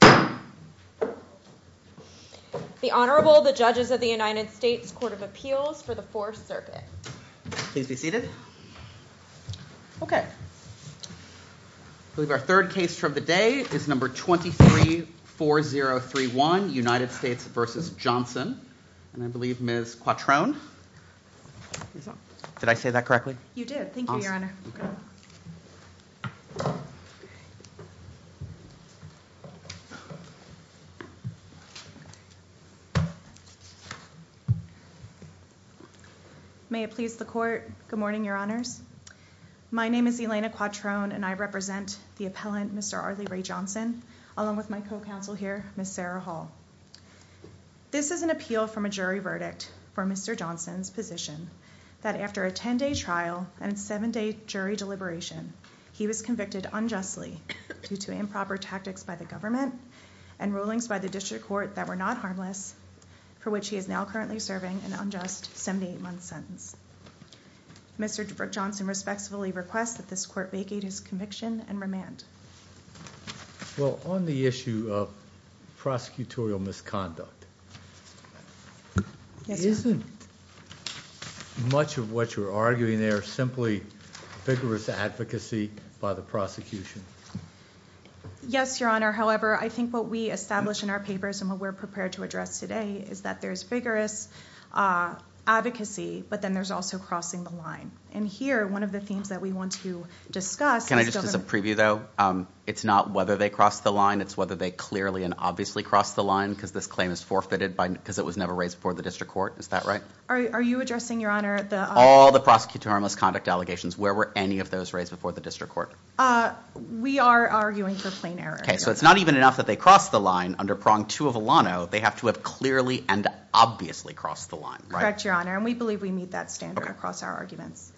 The Honorable, the Judges of the United States Court of Appeals for the Fourth Circuit. Please be seated. Okay. I believe our third case for the day is number 234031, United States v. Johnson. And I believe Ms. Quattrone. Did I say that correctly? You did. Thank you, Your Honor. May it please the Court. Good morning, Your Honors. My name is Elena Quattrone and I represent the appellant, Mr. Arley Ray Johnson, along with my co-counsel here, Ms. Sarah Hall. This is an appeal from a jury verdict for Mr. Johnson's position that after a 10-day trial and a 7-day jury deliberation, he was convicted unjustly due to improper tactics by the government and rulings by the district court that were not harmless, for which he is now currently serving an unjust 78-month sentence. Mr. Johnson respectfully requests that this court vacate his conviction and remand. Well, on the issue of prosecutorial misconduct, isn't much of what you're arguing there simply vigorous advocacy by the prosecution? Yes, Your Honor. However, I think what we established in our papers and what we're prepared to address today is that there's vigorous advocacy, but then there's also crossing the line. And here, one of the themes that we want to discuss- Can I just give a preview, though? It's not whether they crossed the line. It's whether they clearly and obviously crossed the line because this claim is forfeited because it was never raised before the district court. Is that right? Are you addressing, Your Honor, the- All the prosecutorial misconduct allegations. Where were any of those raised before the district court? We are arguing for plain error. Okay, so it's not even enough that they crossed the line under prong two of Alano. They have to have clearly and obviously crossed the line, right? Correct, Your Honor, and we believe we meet that standard across our arguments.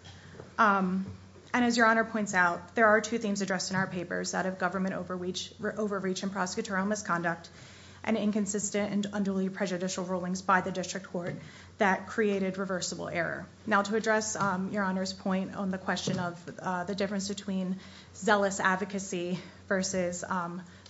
And as Your Honor points out, there are two themes addressed in our papers, that of government overreach and prosecutorial misconduct and inconsistent and unduly prejudicial rulings by the district court that created reversible error. Now, to address Your Honor's point on the question of the difference between zealous advocacy versus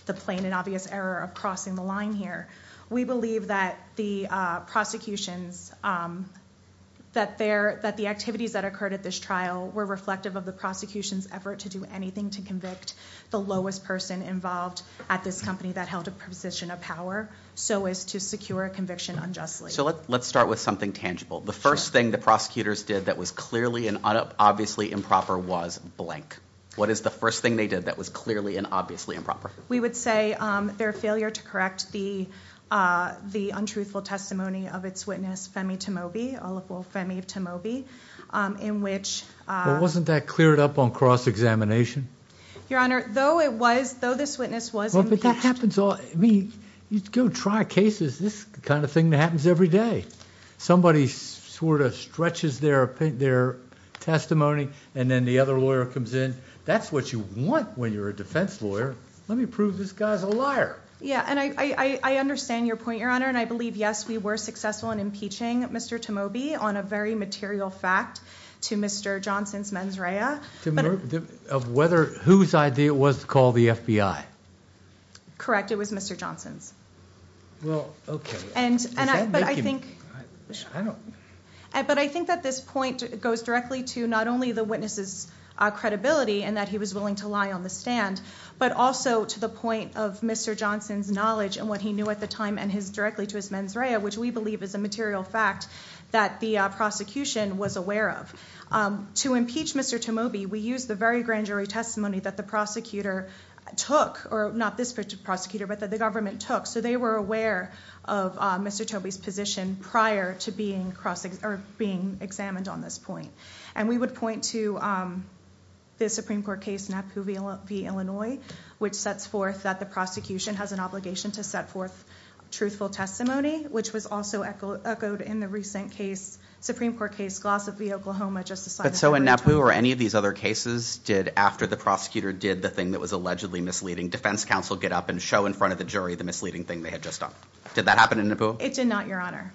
the plain and obvious error of crossing the line here, we believe that the prosecutions, that the activities that occurred at this trial were reflective of the prosecution's effort to do anything to convict the lowest person involved at this company that held a position of power, so as to secure a conviction unjustly. So let's start with something tangible. The first thing the prosecutors did that was clearly and obviously improper was blank. What is the first thing they did that was clearly and obviously improper? We would say their failure to correct the untruthful testimony of its witness, Femi Tamobi, Oliver Femi Tamobi, in which... Well, wasn't that cleared up on cross-examination? Your Honor, though it was, though this witness was... Well, but that happens all... I mean, you go try cases, this kind of thing happens every day. Somebody sort of stretches their testimony and then the other lawyer comes in. That's what you want when you're a defense lawyer. Let me prove this guy's a liar. Yeah, and I understand your point, Your Honor, and I believe, yes, we were successful in impeaching Mr. Tamobi on a very material fact to Mr. Johnson's mens rea. Of whether... whose idea it was to call the FBI? Correct, it was Mr. Johnson's. Well, okay. And I think... Also, to the point of Mr. Johnson's knowledge and what he knew at the time and his... directly to his mens rea, which we believe is a material fact that the prosecution was aware of. To impeach Mr. Tamobi, we used the very grand jury testimony that the prosecutor took, or not this prosecutor, but that the government took. So, they were aware of Mr. Tamobi's position prior to being examined on this point. And we would point to the Supreme Court case, Napoo v. Illinois, which sets forth that the prosecution has an obligation to set forth truthful testimony. Which was also echoed in the recent case, Supreme Court case, Glossop v. Oklahoma, just a slide... But so, in Napoo or any of these other cases, did, after the prosecutor did the thing that was allegedly misleading, defense counsel get up and show in front of the jury the misleading thing they had just done? Did that happen in Napoo? It did not, Your Honor.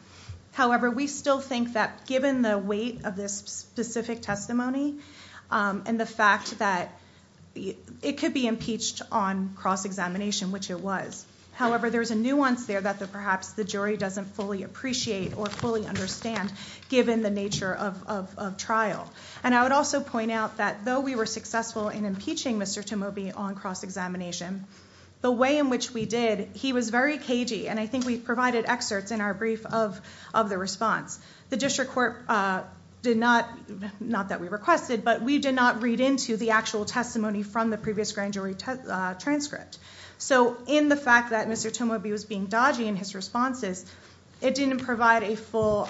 However, we still think that given the weight of this specific testimony and the fact that it could be impeached on cross-examination, which it was. However, there's a nuance there that perhaps the jury doesn't fully appreciate or fully understand, given the nature of trial. And, I would also point out that though we were successful in impeaching Mr. Tamobi on cross-examination, the way in which we did... The district court did not, not that we requested, but we did not read into the actual testimony from the previous grand jury transcript. So, in the fact that Mr. Tamobi was being dodgy in his responses, it didn't provide a full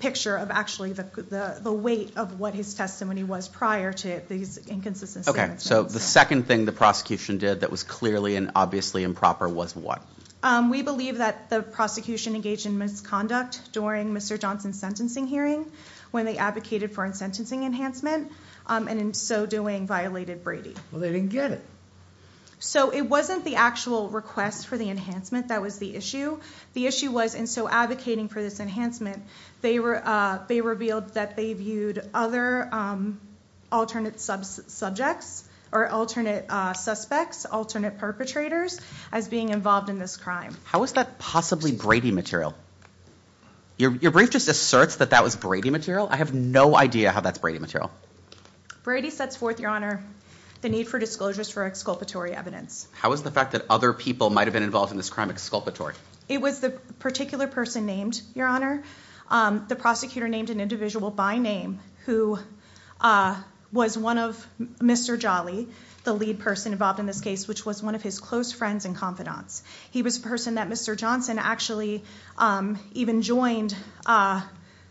picture of actually the weight of what his testimony was prior to these inconsistencies. Okay. So, the second thing the prosecution did that was clearly and obviously improper was what? We believe that the prosecution engaged in misconduct during Mr. Johnson's sentencing hearing, when they advocated for a sentencing enhancement. And, in so doing, violated Brady. Well, they didn't get it. So, it wasn't the actual request for the enhancement that was the issue. The issue was, in so advocating for this enhancement, they revealed that they viewed other alternate subjects or alternate suspects, alternate perpetrators, as being involved in this crime. How is that possibly Brady material? Your brief just asserts that that was Brady material. I have no idea how that's Brady material. Brady sets forth, Your Honor, the need for disclosures for exculpatory evidence. How is the fact that other people might have been involved in this crime exculpatory? It was the particular person named, Your Honor. The prosecutor named an individual by name who was one of Mr. Jolly, the lead person involved in this case, which was one of his close friends and confidants. He was a person that Mr. Johnson actually even joined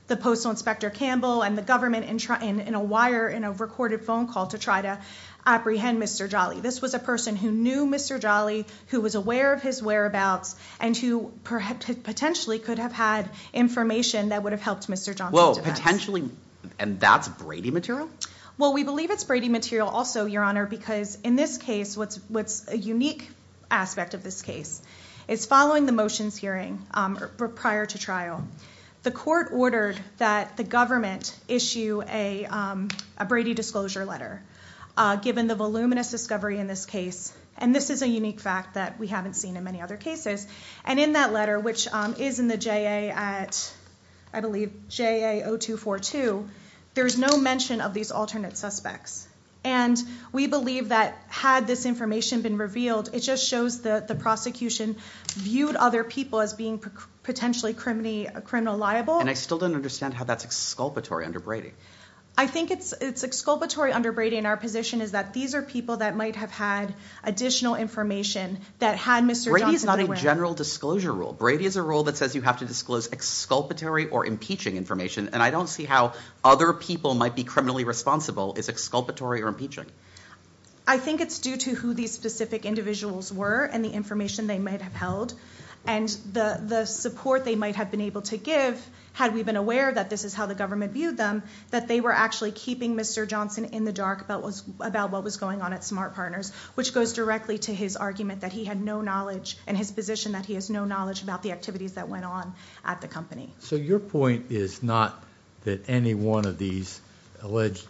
the Postal Inspector Campbell and the government in a wire, in a recorded phone call to try to apprehend Mr. Jolly. This was a person who knew Mr. Jolly, who was aware of his whereabouts, and who potentially could have had information that would have helped Mr. Johnson. Well, potentially, and that's Brady material? Well, we believe it's Brady material also, Your Honor, because in this case, what's a unique aspect of this case, is following the motions hearing prior to trial, the court ordered that the government issue a Brady disclosure letter, given the voluminous discovery in this case. And this is a unique fact that we haven't seen in many other cases. And in that letter, which is in the J.A. at, I believe, J.A. 0242, there's no mention of these alternate suspects. And we believe that had this information been revealed, it just shows that the prosecution viewed other people as being potentially criminal liable. And I still don't understand how that's exculpatory under Brady. I think it's exculpatory under Brady, and our position is that these are people that might have had additional information that had Mr. Johnson aware. Brady is not a general disclosure rule. Brady is a rule that says you have to disclose exculpatory or impeaching information, and I don't see how other people might be criminally responsible. Is exculpatory or impeaching? I think it's due to who these specific individuals were and the information they might have held. And the support they might have been able to give, had we been aware that this is how the government viewed them, that they were actually keeping Mr. Johnson in the dark about what was going on at Smart Partners, which goes directly to his argument that he had no knowledge and his position that he has no knowledge about the activities that went on at the company. So your point is not that any one of these alleged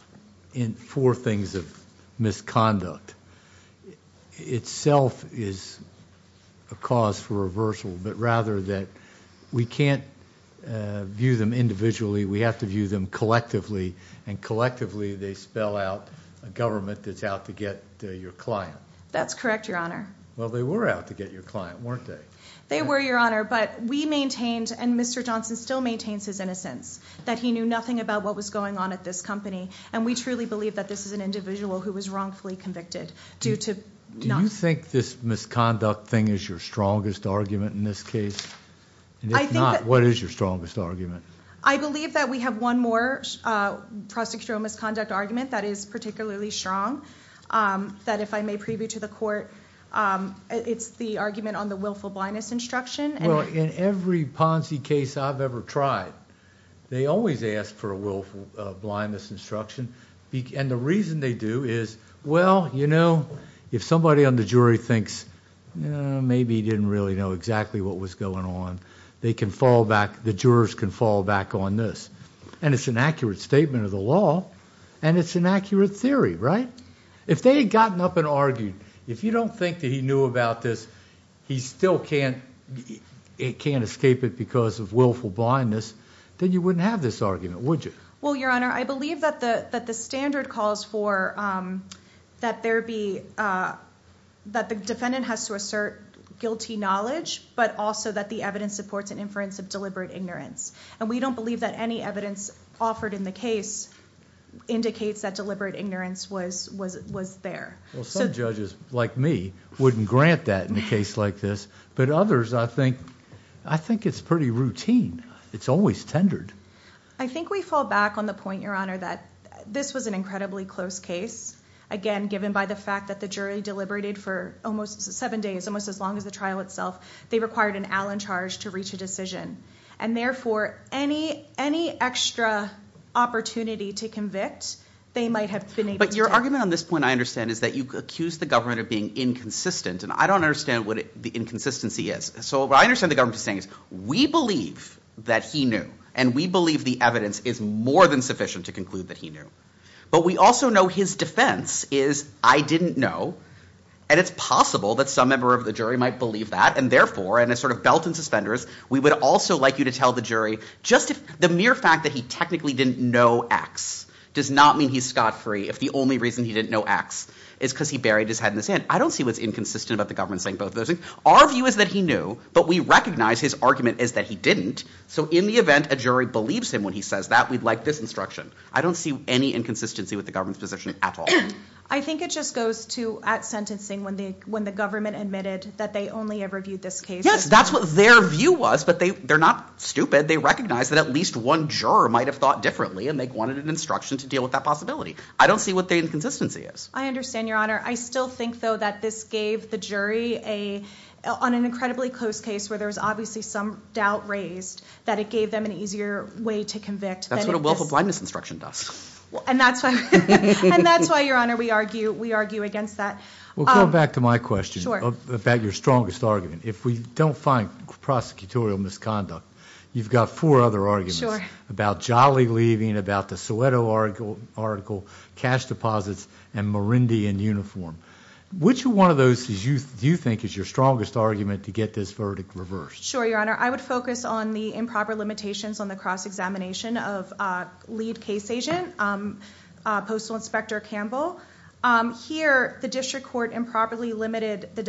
four things of misconduct itself is a cause for reversal, but rather that we can't view them individually, we have to view them collectively, and collectively they spell out a government that's out to get your client. That's correct, Your Honor. Well, they were out to get your client, weren't they? They were, Your Honor, but we maintained, and Mr. Johnson still maintains his innocence, that he knew nothing about what was going on at this company, and we truly believe that this is an individual who was wrongfully convicted. Do you think this misconduct thing is your strongest argument in this case? If not, what is your strongest argument? I believe that we have one more prosecutorial misconduct argument that is particularly strong, that if I may preview to the court, it's the argument on the willful blindness instruction. Well, in every Ponzi case I've ever tried, they always ask for a willful blindness instruction, and the reason they do is, well, you know, if somebody on the jury thinks, maybe he didn't really know exactly what was going on, they can fall back, the jurors can fall back on this, and it's an accurate statement of the law, and it's an accurate theory, right? If they had gotten up and argued, if you don't think that he knew about this, he still can't escape it because of willful blindness, then you wouldn't have this argument, would you? Well, Your Honor, I believe that the standard calls for that the defendant has to assert guilty knowledge, but also that the evidence supports an inference of deliberate ignorance, and we don't believe that any evidence offered in the case indicates that deliberate ignorance was there. Well, some judges, like me, wouldn't grant that in a case like this, but others, I think it's pretty routine. It's always tendered. I think we fall back on the point, Your Honor, that this was an incredibly close case, again, given by the fact that the jury deliberated for almost seven days, almost as long as the trial itself. They required an Allen charge to reach a decision, and therefore any extra opportunity to convict they might have been able to take. But your argument on this point, I understand, is that you accuse the government of being inconsistent, and I don't understand what the inconsistency is. So what I understand the government is saying is we believe that he knew, and we believe the evidence is more than sufficient to conclude that he knew, but we also know his defense is I didn't know, and it's possible that some member of the jury might believe that, and therefore, and as sort of belt and suspenders, we would also like you to tell the jury just the mere fact that he technically didn't know X does not mean he's scot-free if the only reason he didn't know X is because he buried his head in the sand. I don't see what's inconsistent about the government saying both of those things. Our view is that he knew, but we recognize his argument is that he didn't, so in the event a jury believes him when he says that, we'd like this instruction. I don't see any inconsistency with the government's position at all. I think it just goes to at sentencing when the government admitted that they only ever viewed this case as Yes, that's what their view was, but they're not stupid. They recognize that at least one juror might have thought differently, and they wanted an instruction to deal with that possibility. I don't see what the inconsistency is. I understand, Your Honor. I still think, though, that this gave the jury on an incredibly close case where there was obviously some doubt raised, that it gave them an easier way to convict. That's what a willful blindness instruction does. And that's why, Your Honor, we argue against that. Well, going back to my question about your strongest argument, if we don't find prosecutorial misconduct, you've got four other arguments about Jolly leaving, about the Soweto article, cash deposits, and Marindi in uniform. Which one of those do you think is your strongest argument to get this verdict reversed? Sure, Your Honor. I would focus on the improper limitations on the cross-examination of lead case agent, Postal Inspector Campbell. Here, the district court improperly limited the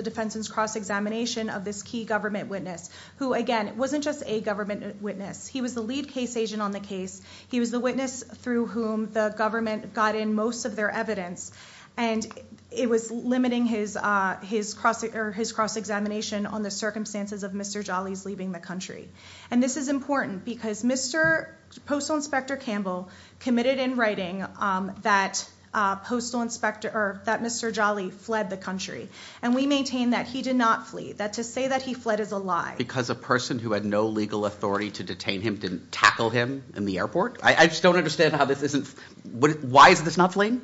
defense's cross-examination of this key government witness, who, again, wasn't just a government witness. He was the lead case agent on the case. He was the witness through whom the government got in most of their evidence. And it was limiting his cross-examination on the circumstances of Mr. Jolly's leaving the country. And this is important because Postal Inspector Campbell committed in writing that Mr. Jolly fled the country. And we maintain that he did not flee, that to say that he fled is a lie. Because a person who had no legal authority to detain him didn't tackle him in the airport? I just don't understand how this isn't – why is this not fleeing?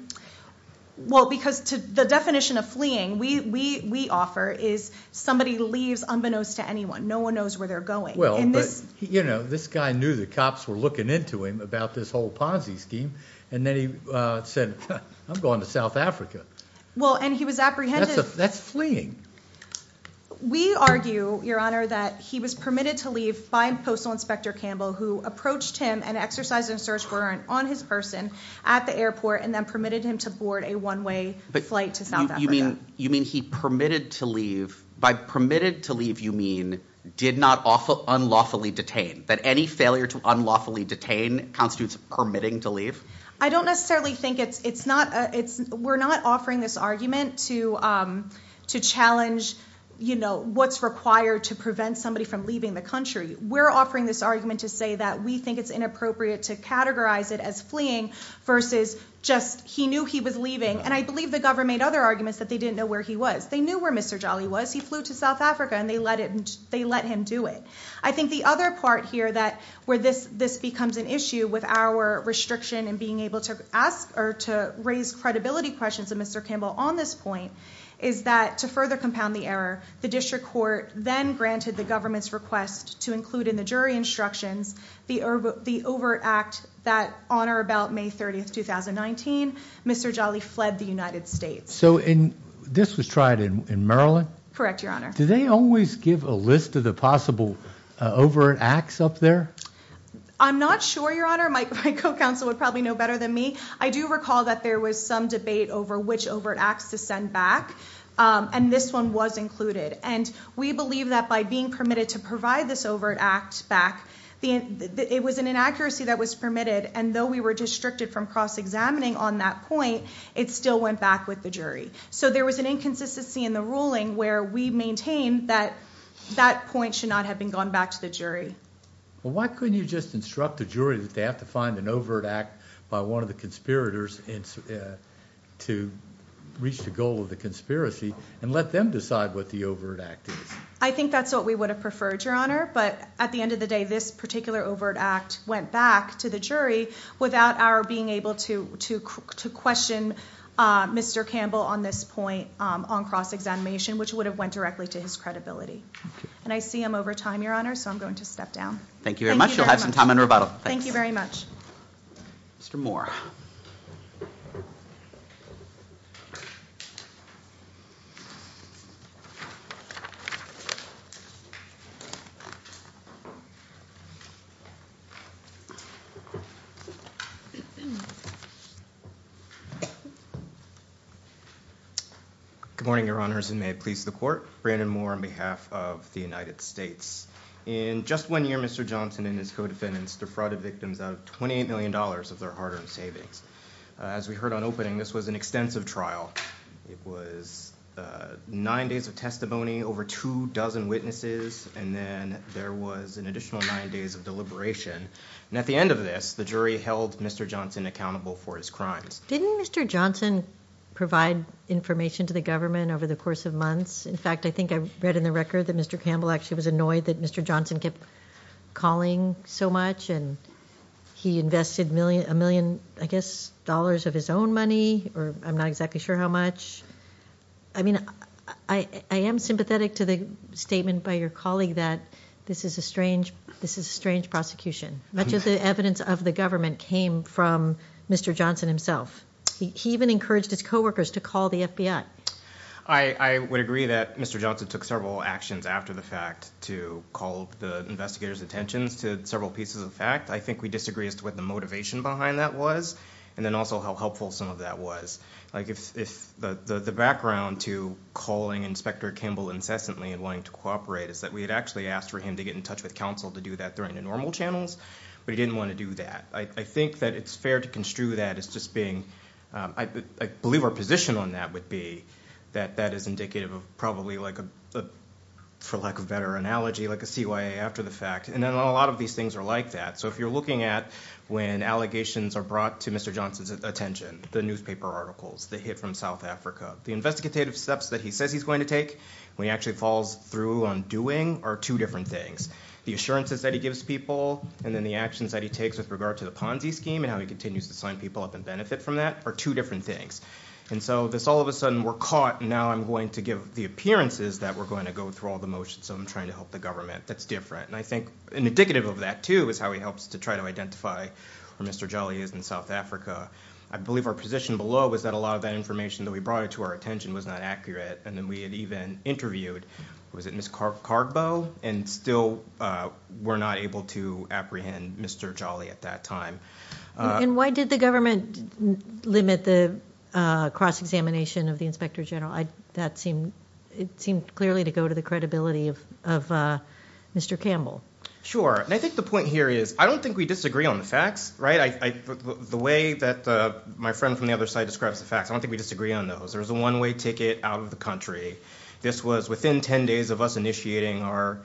Well, because the definition of fleeing we offer is somebody leaves unbeknownst to anyone. No one knows where they're going. Well, but, you know, this guy knew the cops were looking into him about this whole Ponzi scheme. And then he said, I'm going to South Africa. Well, and he was apprehended – That's fleeing. We argue, Your Honor, that he was permitted to leave by Postal Inspector Campbell, who approached him and exercised a search warrant on his person at the airport and then permitted him to board a one-way flight to South Africa. But you mean he permitted to leave – by permitted to leave you mean did not unlawfully detain, that any failure to unlawfully detain constitutes permitting to leave? I don't necessarily think it's – we're not offering this argument to challenge, you know, what's required to prevent somebody from leaving the country. We're offering this argument to say that we think it's inappropriate to categorize it as fleeing versus just he knew he was leaving. And I believe the government made other arguments that they didn't know where he was. They knew where Mr. Jolly was. He flew to South Africa, and they let him do it. I think the other part here that – where this becomes an issue with our restriction in being able to ask or to raise credibility questions of Mr. Campbell on this point is that to further compound the error, the district court then granted the government's request to include in the jury instructions the overt act that on or about May 30, 2019, Mr. Jolly fled the United States. So, and this was tried in Maryland? Correct, Your Honor. Do they always give a list of the possible overt acts up there? I'm not sure, Your Honor. My co-counsel would probably know better than me. I do recall that there was some debate over which overt acts to send back, and this one was included. And we believe that by being permitted to provide this overt act back, it was an inaccuracy that was permitted, and though we were restricted from cross-examining on that point, it still went back with the jury. So there was an inconsistency in the ruling where we maintain that that point should not have been gone back to the jury. Well, why couldn't you just instruct the jury that they have to find an overt act by one of the conspirators to reach the goal of the conspiracy and let them decide what the overt act is? I think that's what we would have preferred, Your Honor. But at the end of the day, this particular overt act went back to the jury without our being able to question Mr. Campbell on this point on cross-examination, which would have went directly to his credibility. And I see I'm over time, Your Honor, so I'm going to step down. Thank you very much. You'll have some time on rebuttal. Thank you very much. Mr. Moore. Good morning, Your Honors, and may it please the court. Brandon Moore on behalf of the United States. In just one year, Mr. Johnson and his co-defendants defrauded victims out of $28 million of their hard-earned savings. As we heard on opening, this was an extensive trial. It was nine days of testimony, over two dozen witnesses, and then there was an additional nine days of deliberation. And at the end of this, the jury held Mr. Johnson accountable for his crimes. Didn't Mr. Johnson provide information to the government over the course of months? In fact, I think I read in the record that Mr. Campbell actually was annoyed that Mr. Johnson kept calling so much, and he invested a million, I guess, dollars of his own money, or I'm not exactly sure how much. I mean, I am sympathetic to the statement by your colleague that this is a strange prosecution. Much of the evidence of the government came from Mr. Johnson himself. He even encouraged his coworkers to call the FBI. I would agree that Mr. Johnson took several actions after the fact to call the investigators' attentions to several pieces of fact. I think we disagree as to what the motivation behind that was and then also how helpful some of that was. The background to calling Inspector Campbell incessantly and wanting to cooperate is that we had actually asked for him to get in touch with counsel to do that during the normal channels, but he didn't want to do that. I think that it's fair to construe that as just being, I believe our position on that would be that that is indicative of probably, for lack of a better analogy, like a CYA after the fact. And a lot of these things are like that. So if you're looking at when allegations are brought to Mr. Johnson's attention, the newspaper articles, the hit from South Africa, the investigative steps that he says he's going to take when he actually falls through on doing are two different things. The assurances that he gives people and then the actions that he takes with regard to the Ponzi scheme and how he continues to sign people up and benefit from that are two different things. And so this all of a sudden, we're caught, and now I'm going to give the appearances that we're going to go through all the motions so I'm trying to help the government. That's different. And I think indicative of that too is how he helps to try to identify where Mr. Djeli is in South Africa. I believe our position below was that a lot of that information that we brought to our attention was not accurate and then we had even interviewed, was it Ms. Cargbo, and still were not able to apprehend Mr. Djeli at that time. And why did the government limit the cross-examination of the inspector general? It seemed clearly to go to the credibility of Mr. Campbell. Sure, and I think the point here is I don't think we disagree on the facts, right? The way that my friend from the other side describes the facts, I don't think we disagree on those. There's a one-way ticket out of the country. This was within 10 days of us initiating our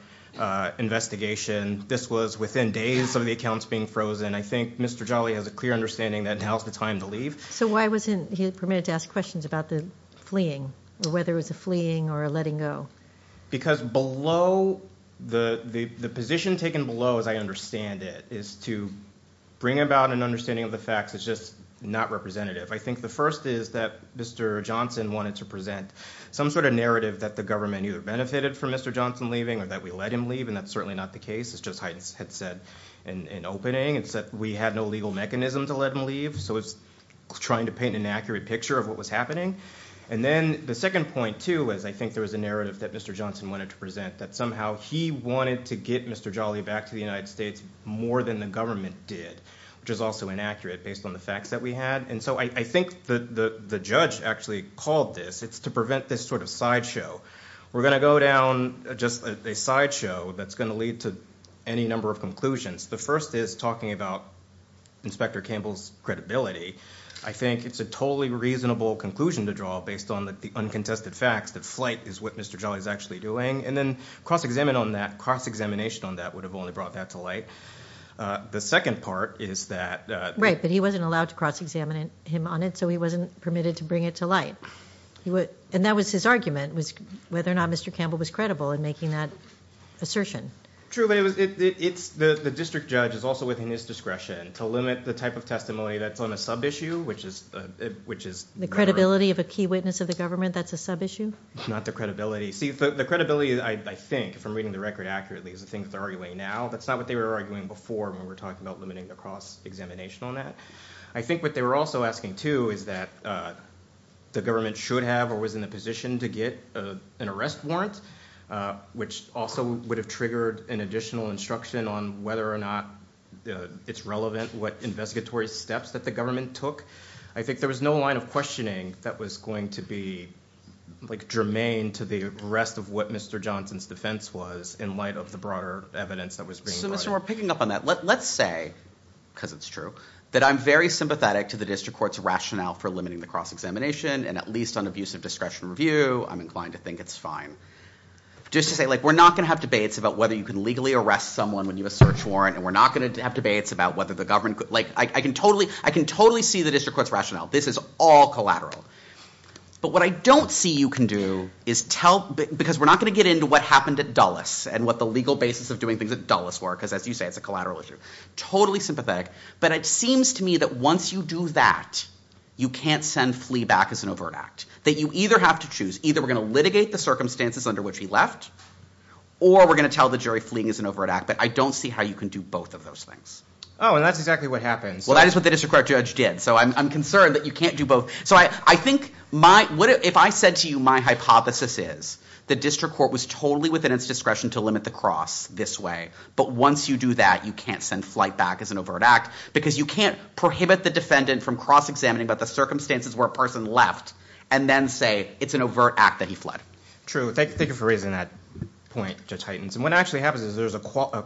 investigation. This was within days of the accounts being frozen. I think Mr. Djeli has a clear understanding that now is the time to leave. So why wasn't he permitted to ask questions about the fleeing, or whether it was a fleeing or a letting go? Because below, the position taken below, as I understand it, is to bring about an understanding of the facts that's just not representative. I think the first is that Mr. Johnson wanted to present some sort of narrative that the government either benefited from Mr. Johnson leaving or that we let him leave, and that's certainly not the case. It's just as I had said in opening. It's that we had no legal mechanism to let him leave, so it's trying to paint an inaccurate picture of what was happening. And then the second point, too, is I think there was a narrative that Mr. Johnson wanted to present that somehow he wanted to get Mr. Djeli back to the United States more than the government did, which is also inaccurate based on the facts that we had. And so I think the judge actually called this. It's to prevent this sort of sideshow. We're going to go down just a sideshow that's going to lead to any number of conclusions. The first is talking about Inspector Campbell's credibility. I think it's a totally reasonable conclusion to draw based on the uncontested facts that flight is what Mr. Djeli is actually doing. And then cross-examination on that would have only brought that to light. The second part is that— Right, but he wasn't allowed to cross-examine him on it, so he wasn't permitted to bring it to light. And that was his argument was whether or not Mr. Campbell was credible in making that assertion. True, but the district judge is also within his discretion to limit the type of testimony that's on a sub-issue, which is— The credibility of a key witness of the government that's a sub-issue? Not the credibility. See, the credibility, I think, if I'm reading the record accurately, is the thing that they're arguing now. That's not what they were arguing before when we were talking about limiting the cross-examination on that. I think what they were also asking, too, is that the government should have or was in a position to get an arrest warrant, which also would have triggered an additional instruction on whether or not it's relevant, what investigatory steps that the government took. I think there was no line of questioning that was going to be germane to the rest of what Mr. Johnson's defense was in light of the broader evidence that was being brought. Let's say—because it's true— that I'm very sympathetic to the district court's rationale for limiting the cross-examination, and at least on abuse of discretion review, I'm inclined to think it's fine. Just to say, we're not going to have debates about whether you can legally arrest someone when you have a search warrant, and we're not going to have debates about whether the government could— I can totally see the district court's rationale. This is all collateral. But what I don't see you can do is tell— because we're not going to get into what happened at Dulles and what the legal basis of doing things at Dulles were, because as you say, it's a collateral issue. Totally sympathetic. But it seems to me that once you do that, you can't send Flea back as an overt act. That you either have to choose. Either we're going to litigate the circumstances under which he left, or we're going to tell the jury Flea is an overt act. But I don't see how you can do both of those things. Oh, and that's exactly what happened. Well, that is what the district court judge did. So I'm concerned that you can't do both. So I think if I said to you my hypothesis is the district court was totally within its discretion to limit the cross this way. But once you do that, you can't send Flea back as an overt act. Because you can't prohibit the defendant from cross-examining about the circumstances where a person left and then say it's an overt act that he fled. True. Thank you for raising that point, Judge Heitens. And what actually happens is there's a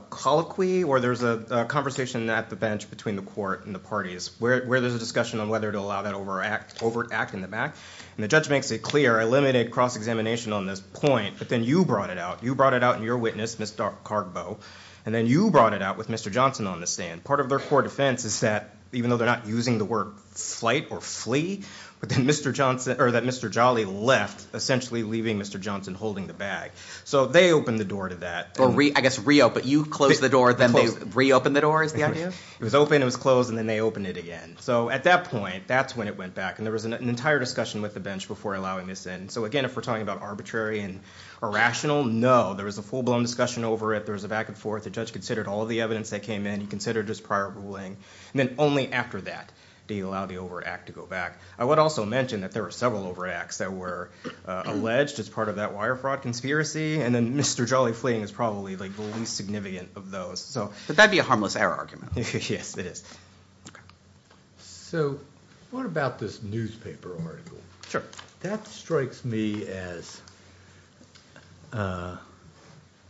colloquy, or there's a conversation at the bench between the court and the parties where there's a discussion on whether to allow that overt act in the back. And the judge makes it clear, I limited cross-examination on this point. But then you brought it out. You brought it out in your witness, Ms. Cargbo. And then you brought it out with Mr. Johnson on the stand. Part of their core defense is that, even though they're not using the word slight or Flea, that Mr. Jolly left, essentially leaving Mr. Johnson holding the bag. So they opened the door to that. I guess reopened. You closed the door, then they reopened the door is the idea? It was open, it was closed, and then they opened it again. So at that point, that's when it went back. And there was an entire discussion with the bench before allowing this in. So, again, if we're talking about arbitrary and irrational, no. There was a full-blown discussion over it. There was a back-and-forth. The judge considered all of the evidence that came in. He considered his prior ruling. And then only after that did he allow the overt act to go back. I would also mention that there were several overt acts that were alleged as part of that wire fraud conspiracy, and then Mr. Jolly fleeing is probably the least significant of those. But that would be a harmless error argument. Yes, it is. So what about this newspaper article? That strikes me as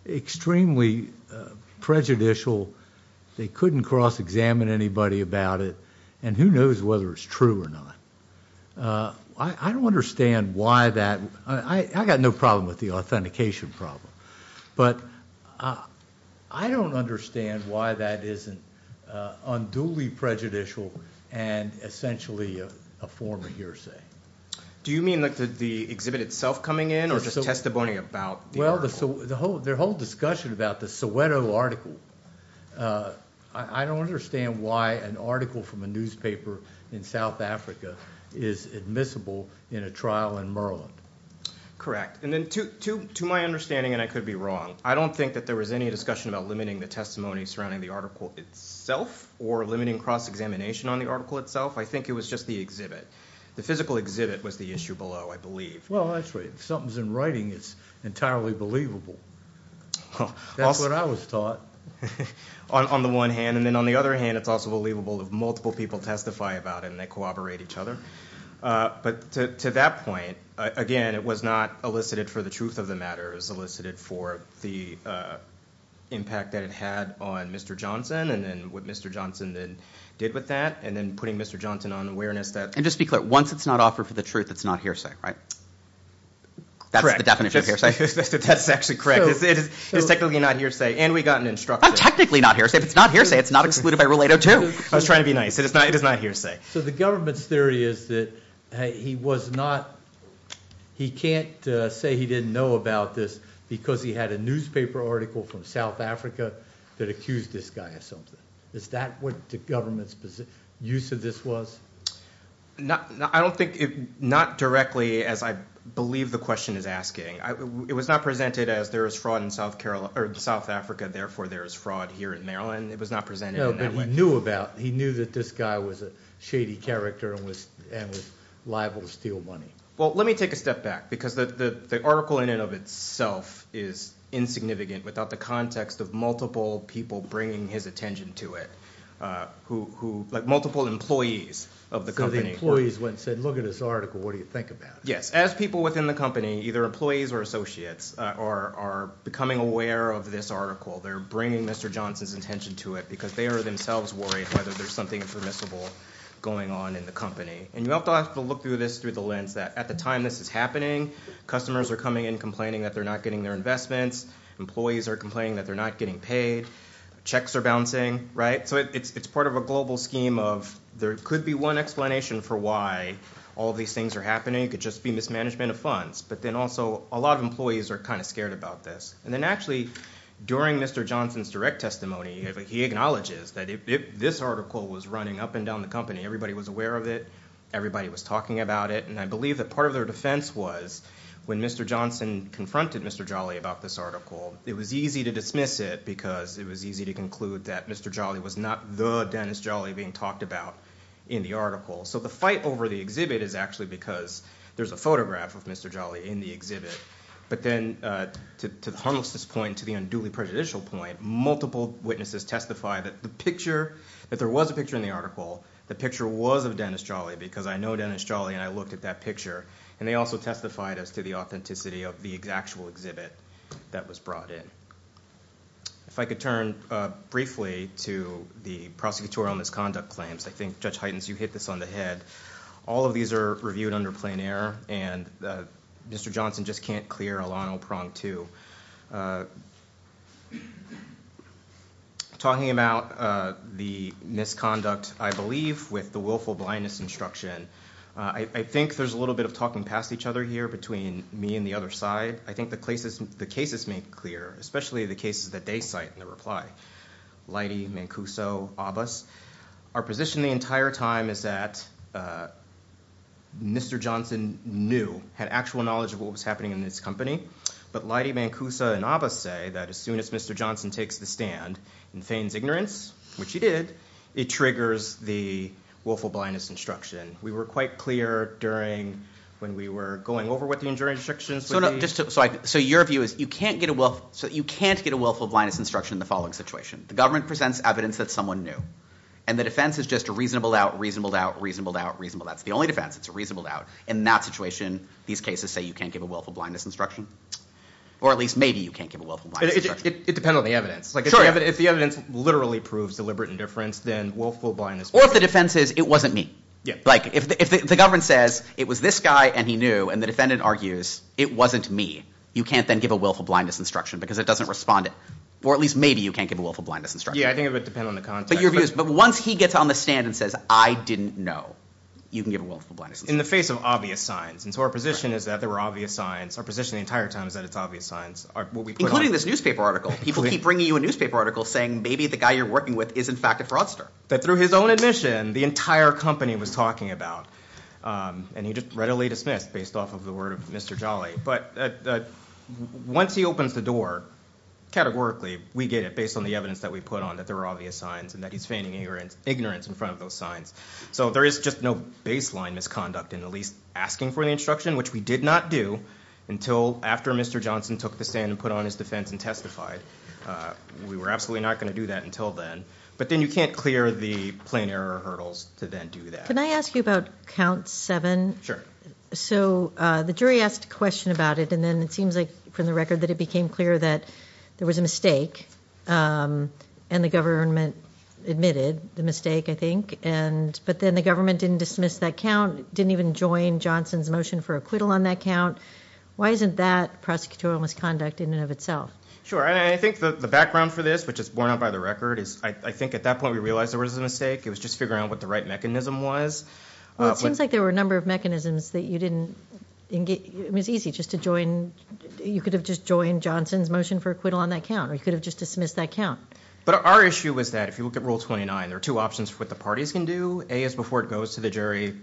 extremely prejudicial. They couldn't cross-examine anybody about it. And who knows whether it's true or not? I don't understand why that. I got no problem with the authentication problem. But I don't understand why that isn't unduly prejudicial and essentially a form of hearsay. Do you mean like the exhibit itself coming in or just testimony about the article? Well, their whole discussion about the Soweto article, I don't understand why an article from a newspaper in South Africa is admissible in a trial in Maryland. Correct. And then to my understanding, and I could be wrong, I don't think that there was any discussion about limiting the testimony surrounding the article itself or limiting cross-examination on the article itself. I think it was just the exhibit. The physical exhibit was the issue below, I believe. Well, that's right. If something's in writing, it's entirely believable. That's what I was taught. On the one hand. And then on the other hand, it's also believable if multiple people testify about it and they corroborate each other. But to that point, again, it was not elicited for the truth of the matter. It was elicited for the impact that it had on Mr. Johnson and then what Mr. Johnson did with that and then putting Mr. Johnson on awareness. And just to be clear, once it's not offered for the truth, it's not hearsay, right? That's the definition of hearsay. That's actually correct. It's technically not hearsay, and we got an instructor. I'm technically not hearsay. If it's not hearsay, it's not excluded by Rule 802. I was trying to be nice. It is not hearsay. So the government's theory is that he was not, he can't say he didn't know about this because he had a newspaper article from South Africa that accused this guy of something. Is that what the government's use of this was? I don't think, not directly, as I believe the question is asking. It was not presented as there is fraud in South Africa, therefore there is fraud here in Maryland. It was not presented in that way. No, but he knew about it. He knew the guy was a shady character and was liable to steal money. Well, let me take a step back because the article in and of itself is insignificant without the context of multiple people bringing his attention to it, like multiple employees of the company. So the employees went and said, look at this article, what do you think about it? Yes. As people within the company, either employees or associates, are becoming aware of this article, they're bringing Mr. Johnson's attention to it because they are themselves worried about whether there's something permissible going on in the company. And you have to look through this through the lens that at the time this is happening, customers are coming in complaining that they're not getting their investments. Employees are complaining that they're not getting paid. Checks are bouncing, right? So it's part of a global scheme of there could be one explanation for why all these things are happening. It could just be mismanagement of funds. But then also a lot of employees are kind of scared about this. And then actually during Mr. Johnson's direct testimony, he acknowledges that this article was running up and down the company. Everybody was aware of it. Everybody was talking about it. And I believe that part of their defense was when Mr. Johnson confronted Mr. Jolly about this article, it was easy to dismiss it because it was easy to conclude that Mr. Jolly was not the Dennis Jolly being talked about in the article. So the fight over the exhibit is actually because there's a photograph of Mr. Jolly in the exhibit. But then to the harmlessness point, to the unduly prejudicial point, multiple witnesses testify that the picture, that there was a picture in the article, the picture was of Dennis Jolly because I know Dennis Jolly and I looked at that picture. And they also testified as to the authenticity of the actual exhibit that was brought in. If I could turn briefly to the prosecutorial misconduct claims. I think, Judge Heidens, you hit this on the head. All of these are reviewed under plein air, and Mr. Johnson just can't clear a long prong too. Talking about the misconduct, I believe, with the willful blindness instruction, I think there's a little bit of talking past each other here between me and the other side. I think the cases make clear, especially the cases that they cite in their reply, Leidy, Mancuso, Abbas. Our position the entire time is that Mr. Johnson knew, had actual knowledge of what was happening in this company. But Leidy, Mancuso, and Abbas say that as soon as Mr. Johnson takes the stand, in Fain's ignorance, which he did, it triggers the willful blindness instruction. We were quite clear during when we were going over what the injuring instructions would be. So your view is you can't get a willful blindness instruction in the following situation. The government presents evidence that someone knew, and the defense is just a reasonable doubt, reasonable doubt, reasonable doubt, reasonable doubt. It's the only defense. It's a reasonable doubt. In that situation, these cases say you can't give a willful blindness instruction. Or at least maybe you can't give a willful blindness instruction. It depends on the evidence. Sure, but if the evidence literally proves deliberate indifference, then willful blindness... Or if the defense is, it wasn't me. Like, if the government says, it was this guy and he knew, and the defendant argues, it wasn't me, you can't then give a willful blindness instruction because it doesn't respond. Or at least maybe you can't give a willful blindness instruction. Yeah, I think it would depend on the context. But your view is once he gets on the stand and says, I didn't know, you can give a willful blindness instruction. In the face of obvious signs. And so our position is that there were obvious signs. Our position the entire time is that it's obvious signs. Including this newspaper article. People keep bringing you a newspaper article saying maybe the guy you're working with is in fact a fraudster. That through his own admission, the entire company was talking about. And he just readily dismissed based off of the word of Mr. Jolly. But once he opens the door, categorically, we get it based on the evidence that we put on, that there were obvious signs, and that he's feigning ignorance in front of those signs. So there is just no baseline misconduct in at least asking for the instruction, which we did not do until after Mr. Johnson took the stand and put on his defense and testified. We were absolutely not going to do that until then. But then you can't clear the plain error hurdles to then do that. Can I ask you about count seven? Sure. So the jury asked a question about it, and then it seems like from the record that it became clear that there was a mistake, and the government admitted the mistake, I think. But then the government didn't dismiss that count, didn't even join Johnson's motion for acquittal on that count. Why isn't that prosecutorial misconduct in and of itself? Sure. I think the background for this, which is borne out by the record, is I think at that point we realized there was a mistake. It was just figuring out what the right mechanism was. Well, it seems like there were a number of mechanisms that you didn't engage. It was easy just to join. You could have just joined Johnson's motion for acquittal on that count, or you could have just dismissed that count. But our issue was that if you look at Rule 29, there are two options for what the parties can do. A is before it goes to the jury,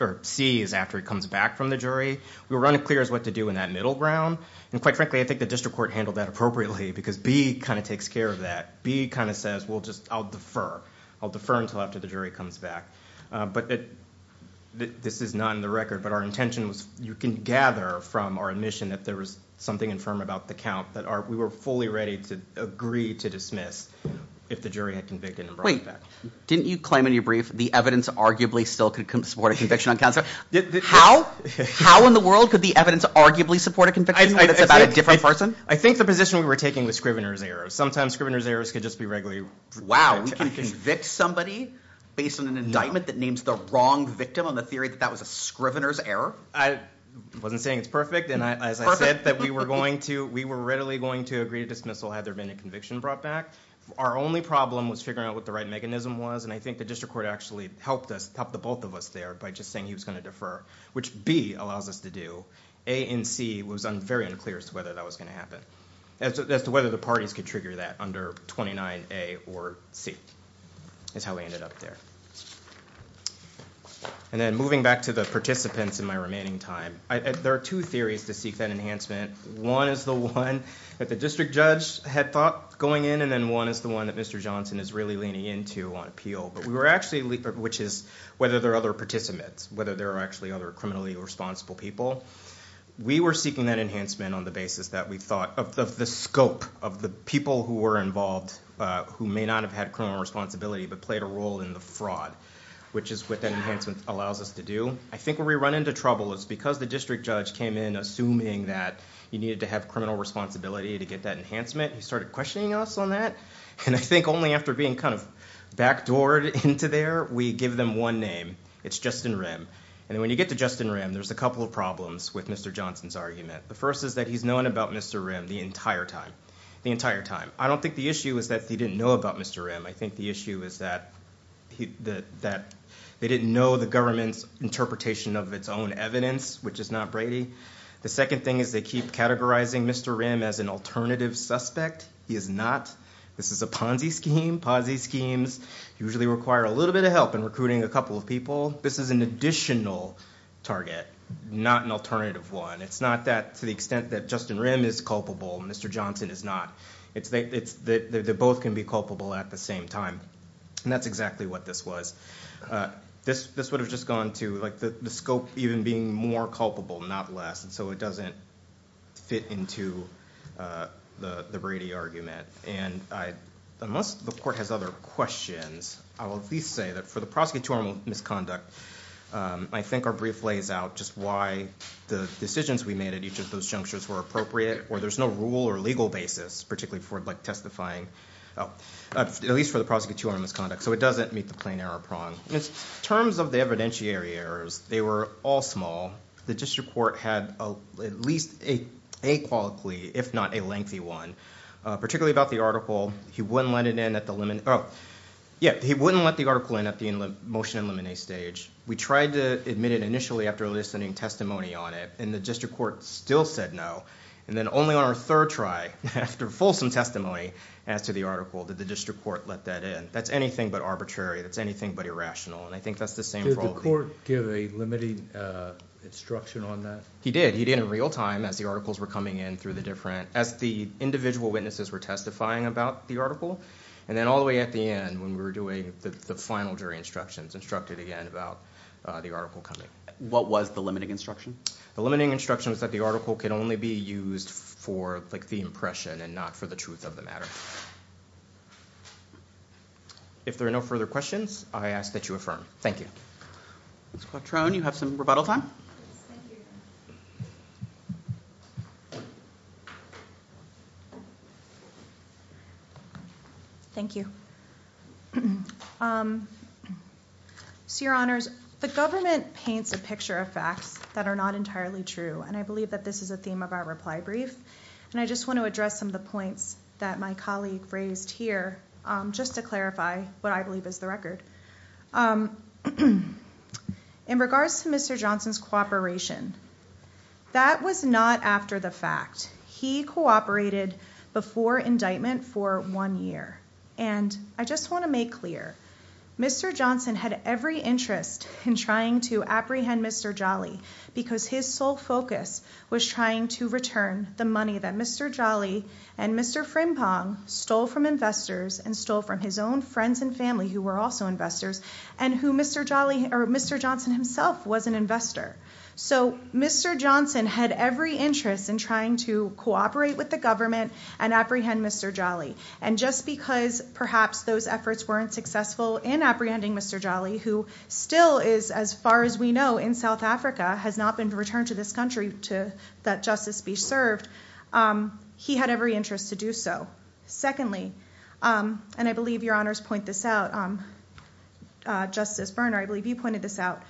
or C is after it comes back from the jury. We were running clear as to what to do in that middle ground, and quite frankly I think the district court handled that appropriately because B kind of takes care of that. B kind of says, well, I'll defer. I'll defer until after the jury comes back. This is not in the record, but our intention was you can gather from our admission that there was something infirm about the count that we were fully ready to agree to dismiss if the jury had convicted and brought it back. Didn't you claim in your brief the evidence arguably still could support a conviction on counts? How? How in the world could the evidence arguably support a conviction when it's about a different person? I think the position we were taking was Scrivener's errors. Sometimes Scrivener's errors could just be regularly— Wow, we can convict somebody based on an indictment that names the wrong victim on the theory that that was a Scrivener's error? I wasn't saying it's perfect, and as I said, that we were going to— we were readily going to agree to dismissal had there been a conviction brought back. Our only problem was figuring out what the right mechanism was, and I think the district court actually helped us, helped the both of us there by just saying he was going to defer, which B allows us to do. A and C was very unclear as to whether that was going to happen, as to whether the parties could trigger that under 29A or C is how we ended up there. And then moving back to the participants in my remaining time, there are two theories to seek that enhancement. One is the one that the district judge had thought going in, and then one is the one that Mr. Johnson is really leaning into on appeal, but we were actually— which is whether there are other participants, whether there are actually other criminally responsible people. We were seeking that enhancement on the basis that we thought— of the scope of the people who were involved who may not have had criminal responsibility but played a role in the fraud, which is what that enhancement allows us to do. I think where we run into trouble is because the district judge came in assuming that you needed to have criminal responsibility to get that enhancement. He started questioning us on that, and I think only after being kind of backdoored into there, we give them one name. It's Justin Rim, and when you get to Justin Rim, there's a couple of problems with Mr. Johnson's argument. The first is that he's known about Mr. Rim the entire time. I don't think the issue is that he didn't know about Mr. Rim. I think the issue is that they didn't know the government's interpretation of its own evidence, which is not Brady. The second thing is they keep categorizing Mr. Rim as an alternative suspect. He is not. This is a Ponzi scheme. Ponzi schemes usually require a little bit of help in recruiting a couple of people. This is an additional target, not an alternative one. It's not that to the extent that Justin Rim is culpable, Mr. Johnson is not. They both can be culpable at the same time, and that's exactly what this was. This would have just gone to the scope even being more culpable, not less, and so it doesn't fit into the Brady argument. Unless the court has other questions, I will at least say that for the prosecutorial misconduct, I think our brief lays out just why the decisions we made at each of those junctures were appropriate, or there's no rule or legal basis, particularly for testifying, at least for the prosecutorial misconduct, so it doesn't meet the plain error prong. In terms of the evidentiary errors, they were all small. The district court had at least a quality, if not a lengthy one, particularly about the article. He wouldn't let it in at the motion and limine stage. We tried to admit it initially after listening testimony on it, and the district court still said no, and then only on our third try after fulsome testimony as to the article did the district court let that in. That's anything but arbitrary. That's anything but irrational, and I think that's the same problem. Did the court give a limiting instruction on that? He did. He did in real time as the articles were coming in through the different... Then all the way at the end when we were doing the final jury instructions, instructed again about the article coming. What was the limiting instruction? The limiting instruction was that the article could only be used for the impression and not for the truth of the matter. If there are no further questions, I ask that you affirm. Thank you. Ms. Quattrone, you have some rebuttal time? Yes, thank you. Thank you. Your Honors, the government paints a picture of facts that are not entirely true, and I believe that this is a theme of our reply brief, and I just want to address some of the points that my colleague raised here just to clarify what I believe is the record. In regards to Mr. Johnson's cooperation, that was not after the fact. He cooperated before indictment for one year, and I just want to make clear, Mr. Johnson had every interest in trying to apprehend Mr. Jolly because his sole focus was trying to return the money that Mr. Jolly and Mr. Frimpong stole from investors and stole from his own friends and family who were also investors, and who Mr. Johnson himself was an investor. So Mr. Johnson had every interest in trying to cooperate with the government and apprehend Mr. Jolly, and just because perhaps those efforts weren't successful in apprehending Mr. Jolly, who still is, as far as we know, in South Africa, has not been returned to this country that justice be served, he had every interest to do so. Secondly, and I believe Your Honors point this out, Justice Berner, I believe you pointed this out,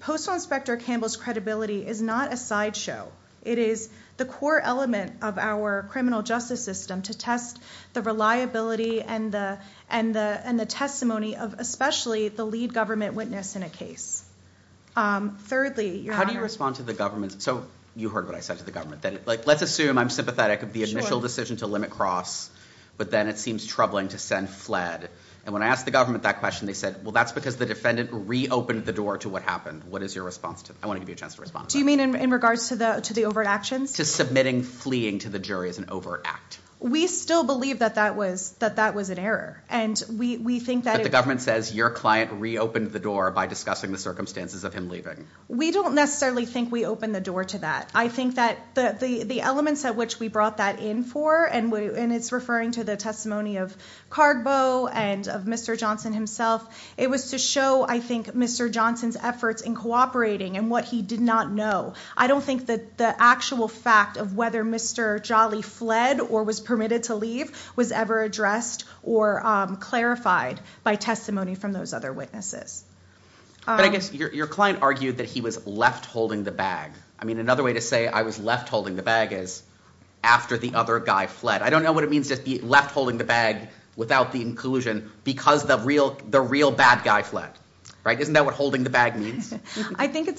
Postal Inspector Campbell's credibility is not a sideshow. It is the core element of our criminal justice system to test the reliability and the testimony of especially the lead government witness in a case. Thirdly, Your Honors. How do you respond to the government? So you heard what I said to the government. Let's assume I'm sympathetic of the initial decision to limit cross, but then it seems troubling to send fled. And when I asked the government that question, they said, well, that's because the defendant reopened the door to what happened. What is your response to that? I want to give you a chance to respond to that. Do you mean in regards to the overt actions? To submitting fleeing to the jury is an overt act. We still believe that that was an error, and we think that it was. But the government says your client reopened the door by discussing the circumstances of him leaving. We don't necessarily think we opened the door to that. I think that the elements at which we brought that in for, and it's referring to the testimony of Cargbo and of Mr. Johnson himself, it was to show, I think, Mr. Johnson's efforts in cooperating and what he did not know. I don't think that the actual fact of whether Mr. Jolly fled or was permitted to leave was ever addressed or clarified by testimony from those other witnesses. But I guess your client argued that he was left holding the bag. I mean, another way to say I was left holding the bag is after the other guy fled. I don't know what it means to be left holding the bag without the inclusion because the real bad guy fled. Isn't that what holding the bag means?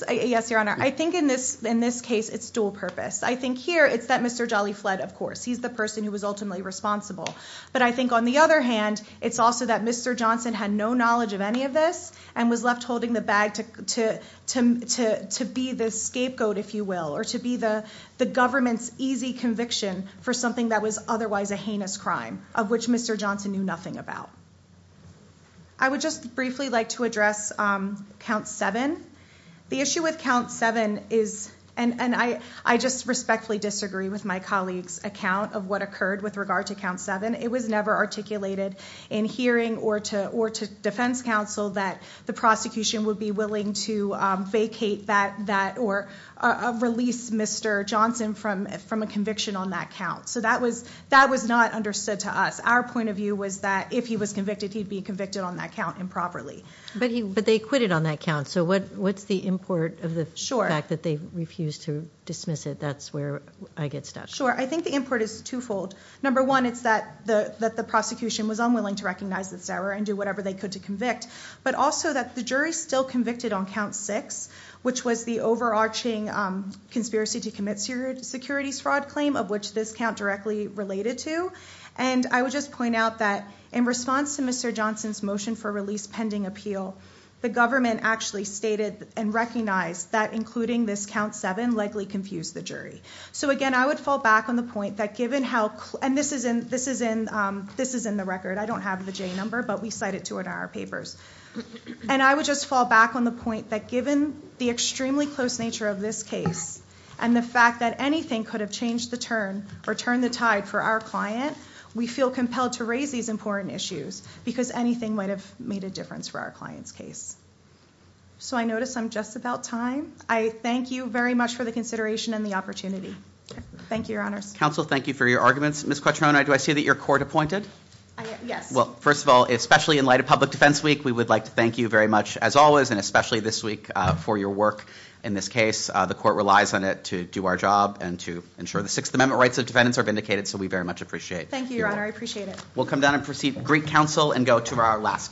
Yes, Your Honor. I think in this case it's dual purpose. I think here it's that Mr. Jolly fled, of course. He's the person who was ultimately responsible. But I think on the other hand, it's also that Mr. Johnson had no knowledge of any of this and was left holding the bag to be the scapegoat, if you will, or to be the government's easy conviction for something that was otherwise a heinous crime, of which Mr. Johnson knew nothing about. I would just briefly like to address Count 7. The issue with Count 7 is, and I just respectfully disagree with my colleague's account of what occurred with regard to Count 7. It was never articulated in hearing or to defense counsel that the prosecution would be willing to vacate that or release Mr. Johnson from a conviction on that count. So that was not understood to us. Our point of view was that if he was convicted, he'd be convicted on that count improperly. But they acquitted on that count. So what's the import of the fact that they refused to dismiss it? That's where I get stuck. Sure. I think the import is twofold. Number one, it's that the prosecution was unwilling to recognize this error and do whatever they could to convict, but also that the jury's still convicted on Count 6, which was the overarching conspiracy to commit securities fraud claim, of which this count directly related to. And I would just point out that in response to Mr. Johnson's motion for release pending appeal, the government actually stated and recognized that including this Count 7 likely confused the jury. So again, I would fall back on the point that given how clear And this is in the record. I don't have the J number, but we cite it to it in our papers. And I would just fall back on the point that given the extremely close nature of this case and the fact that anything could have changed the turn or turned the tide for our client, we feel compelled to raise these important issues because anything might have made a difference for our client's case. So I notice I'm just about time. I thank you very much for the consideration and the opportunity. Thank you, Your Honors. Counsel, thank you for your arguments. Ms. Quattroni, do I see that you're court-appointed? Yes. Well, first of all, especially in light of Public Defense Week, we would like to thank you very much as always and especially this week for your work in this case. The court relies on it to do our job and to ensure the Sixth Amendment rights of defendants are vindicated, so we very much appreciate it. Thank you, Your Honor. I appreciate it. We'll come down and proceed to Greek Counsel and go to our last case.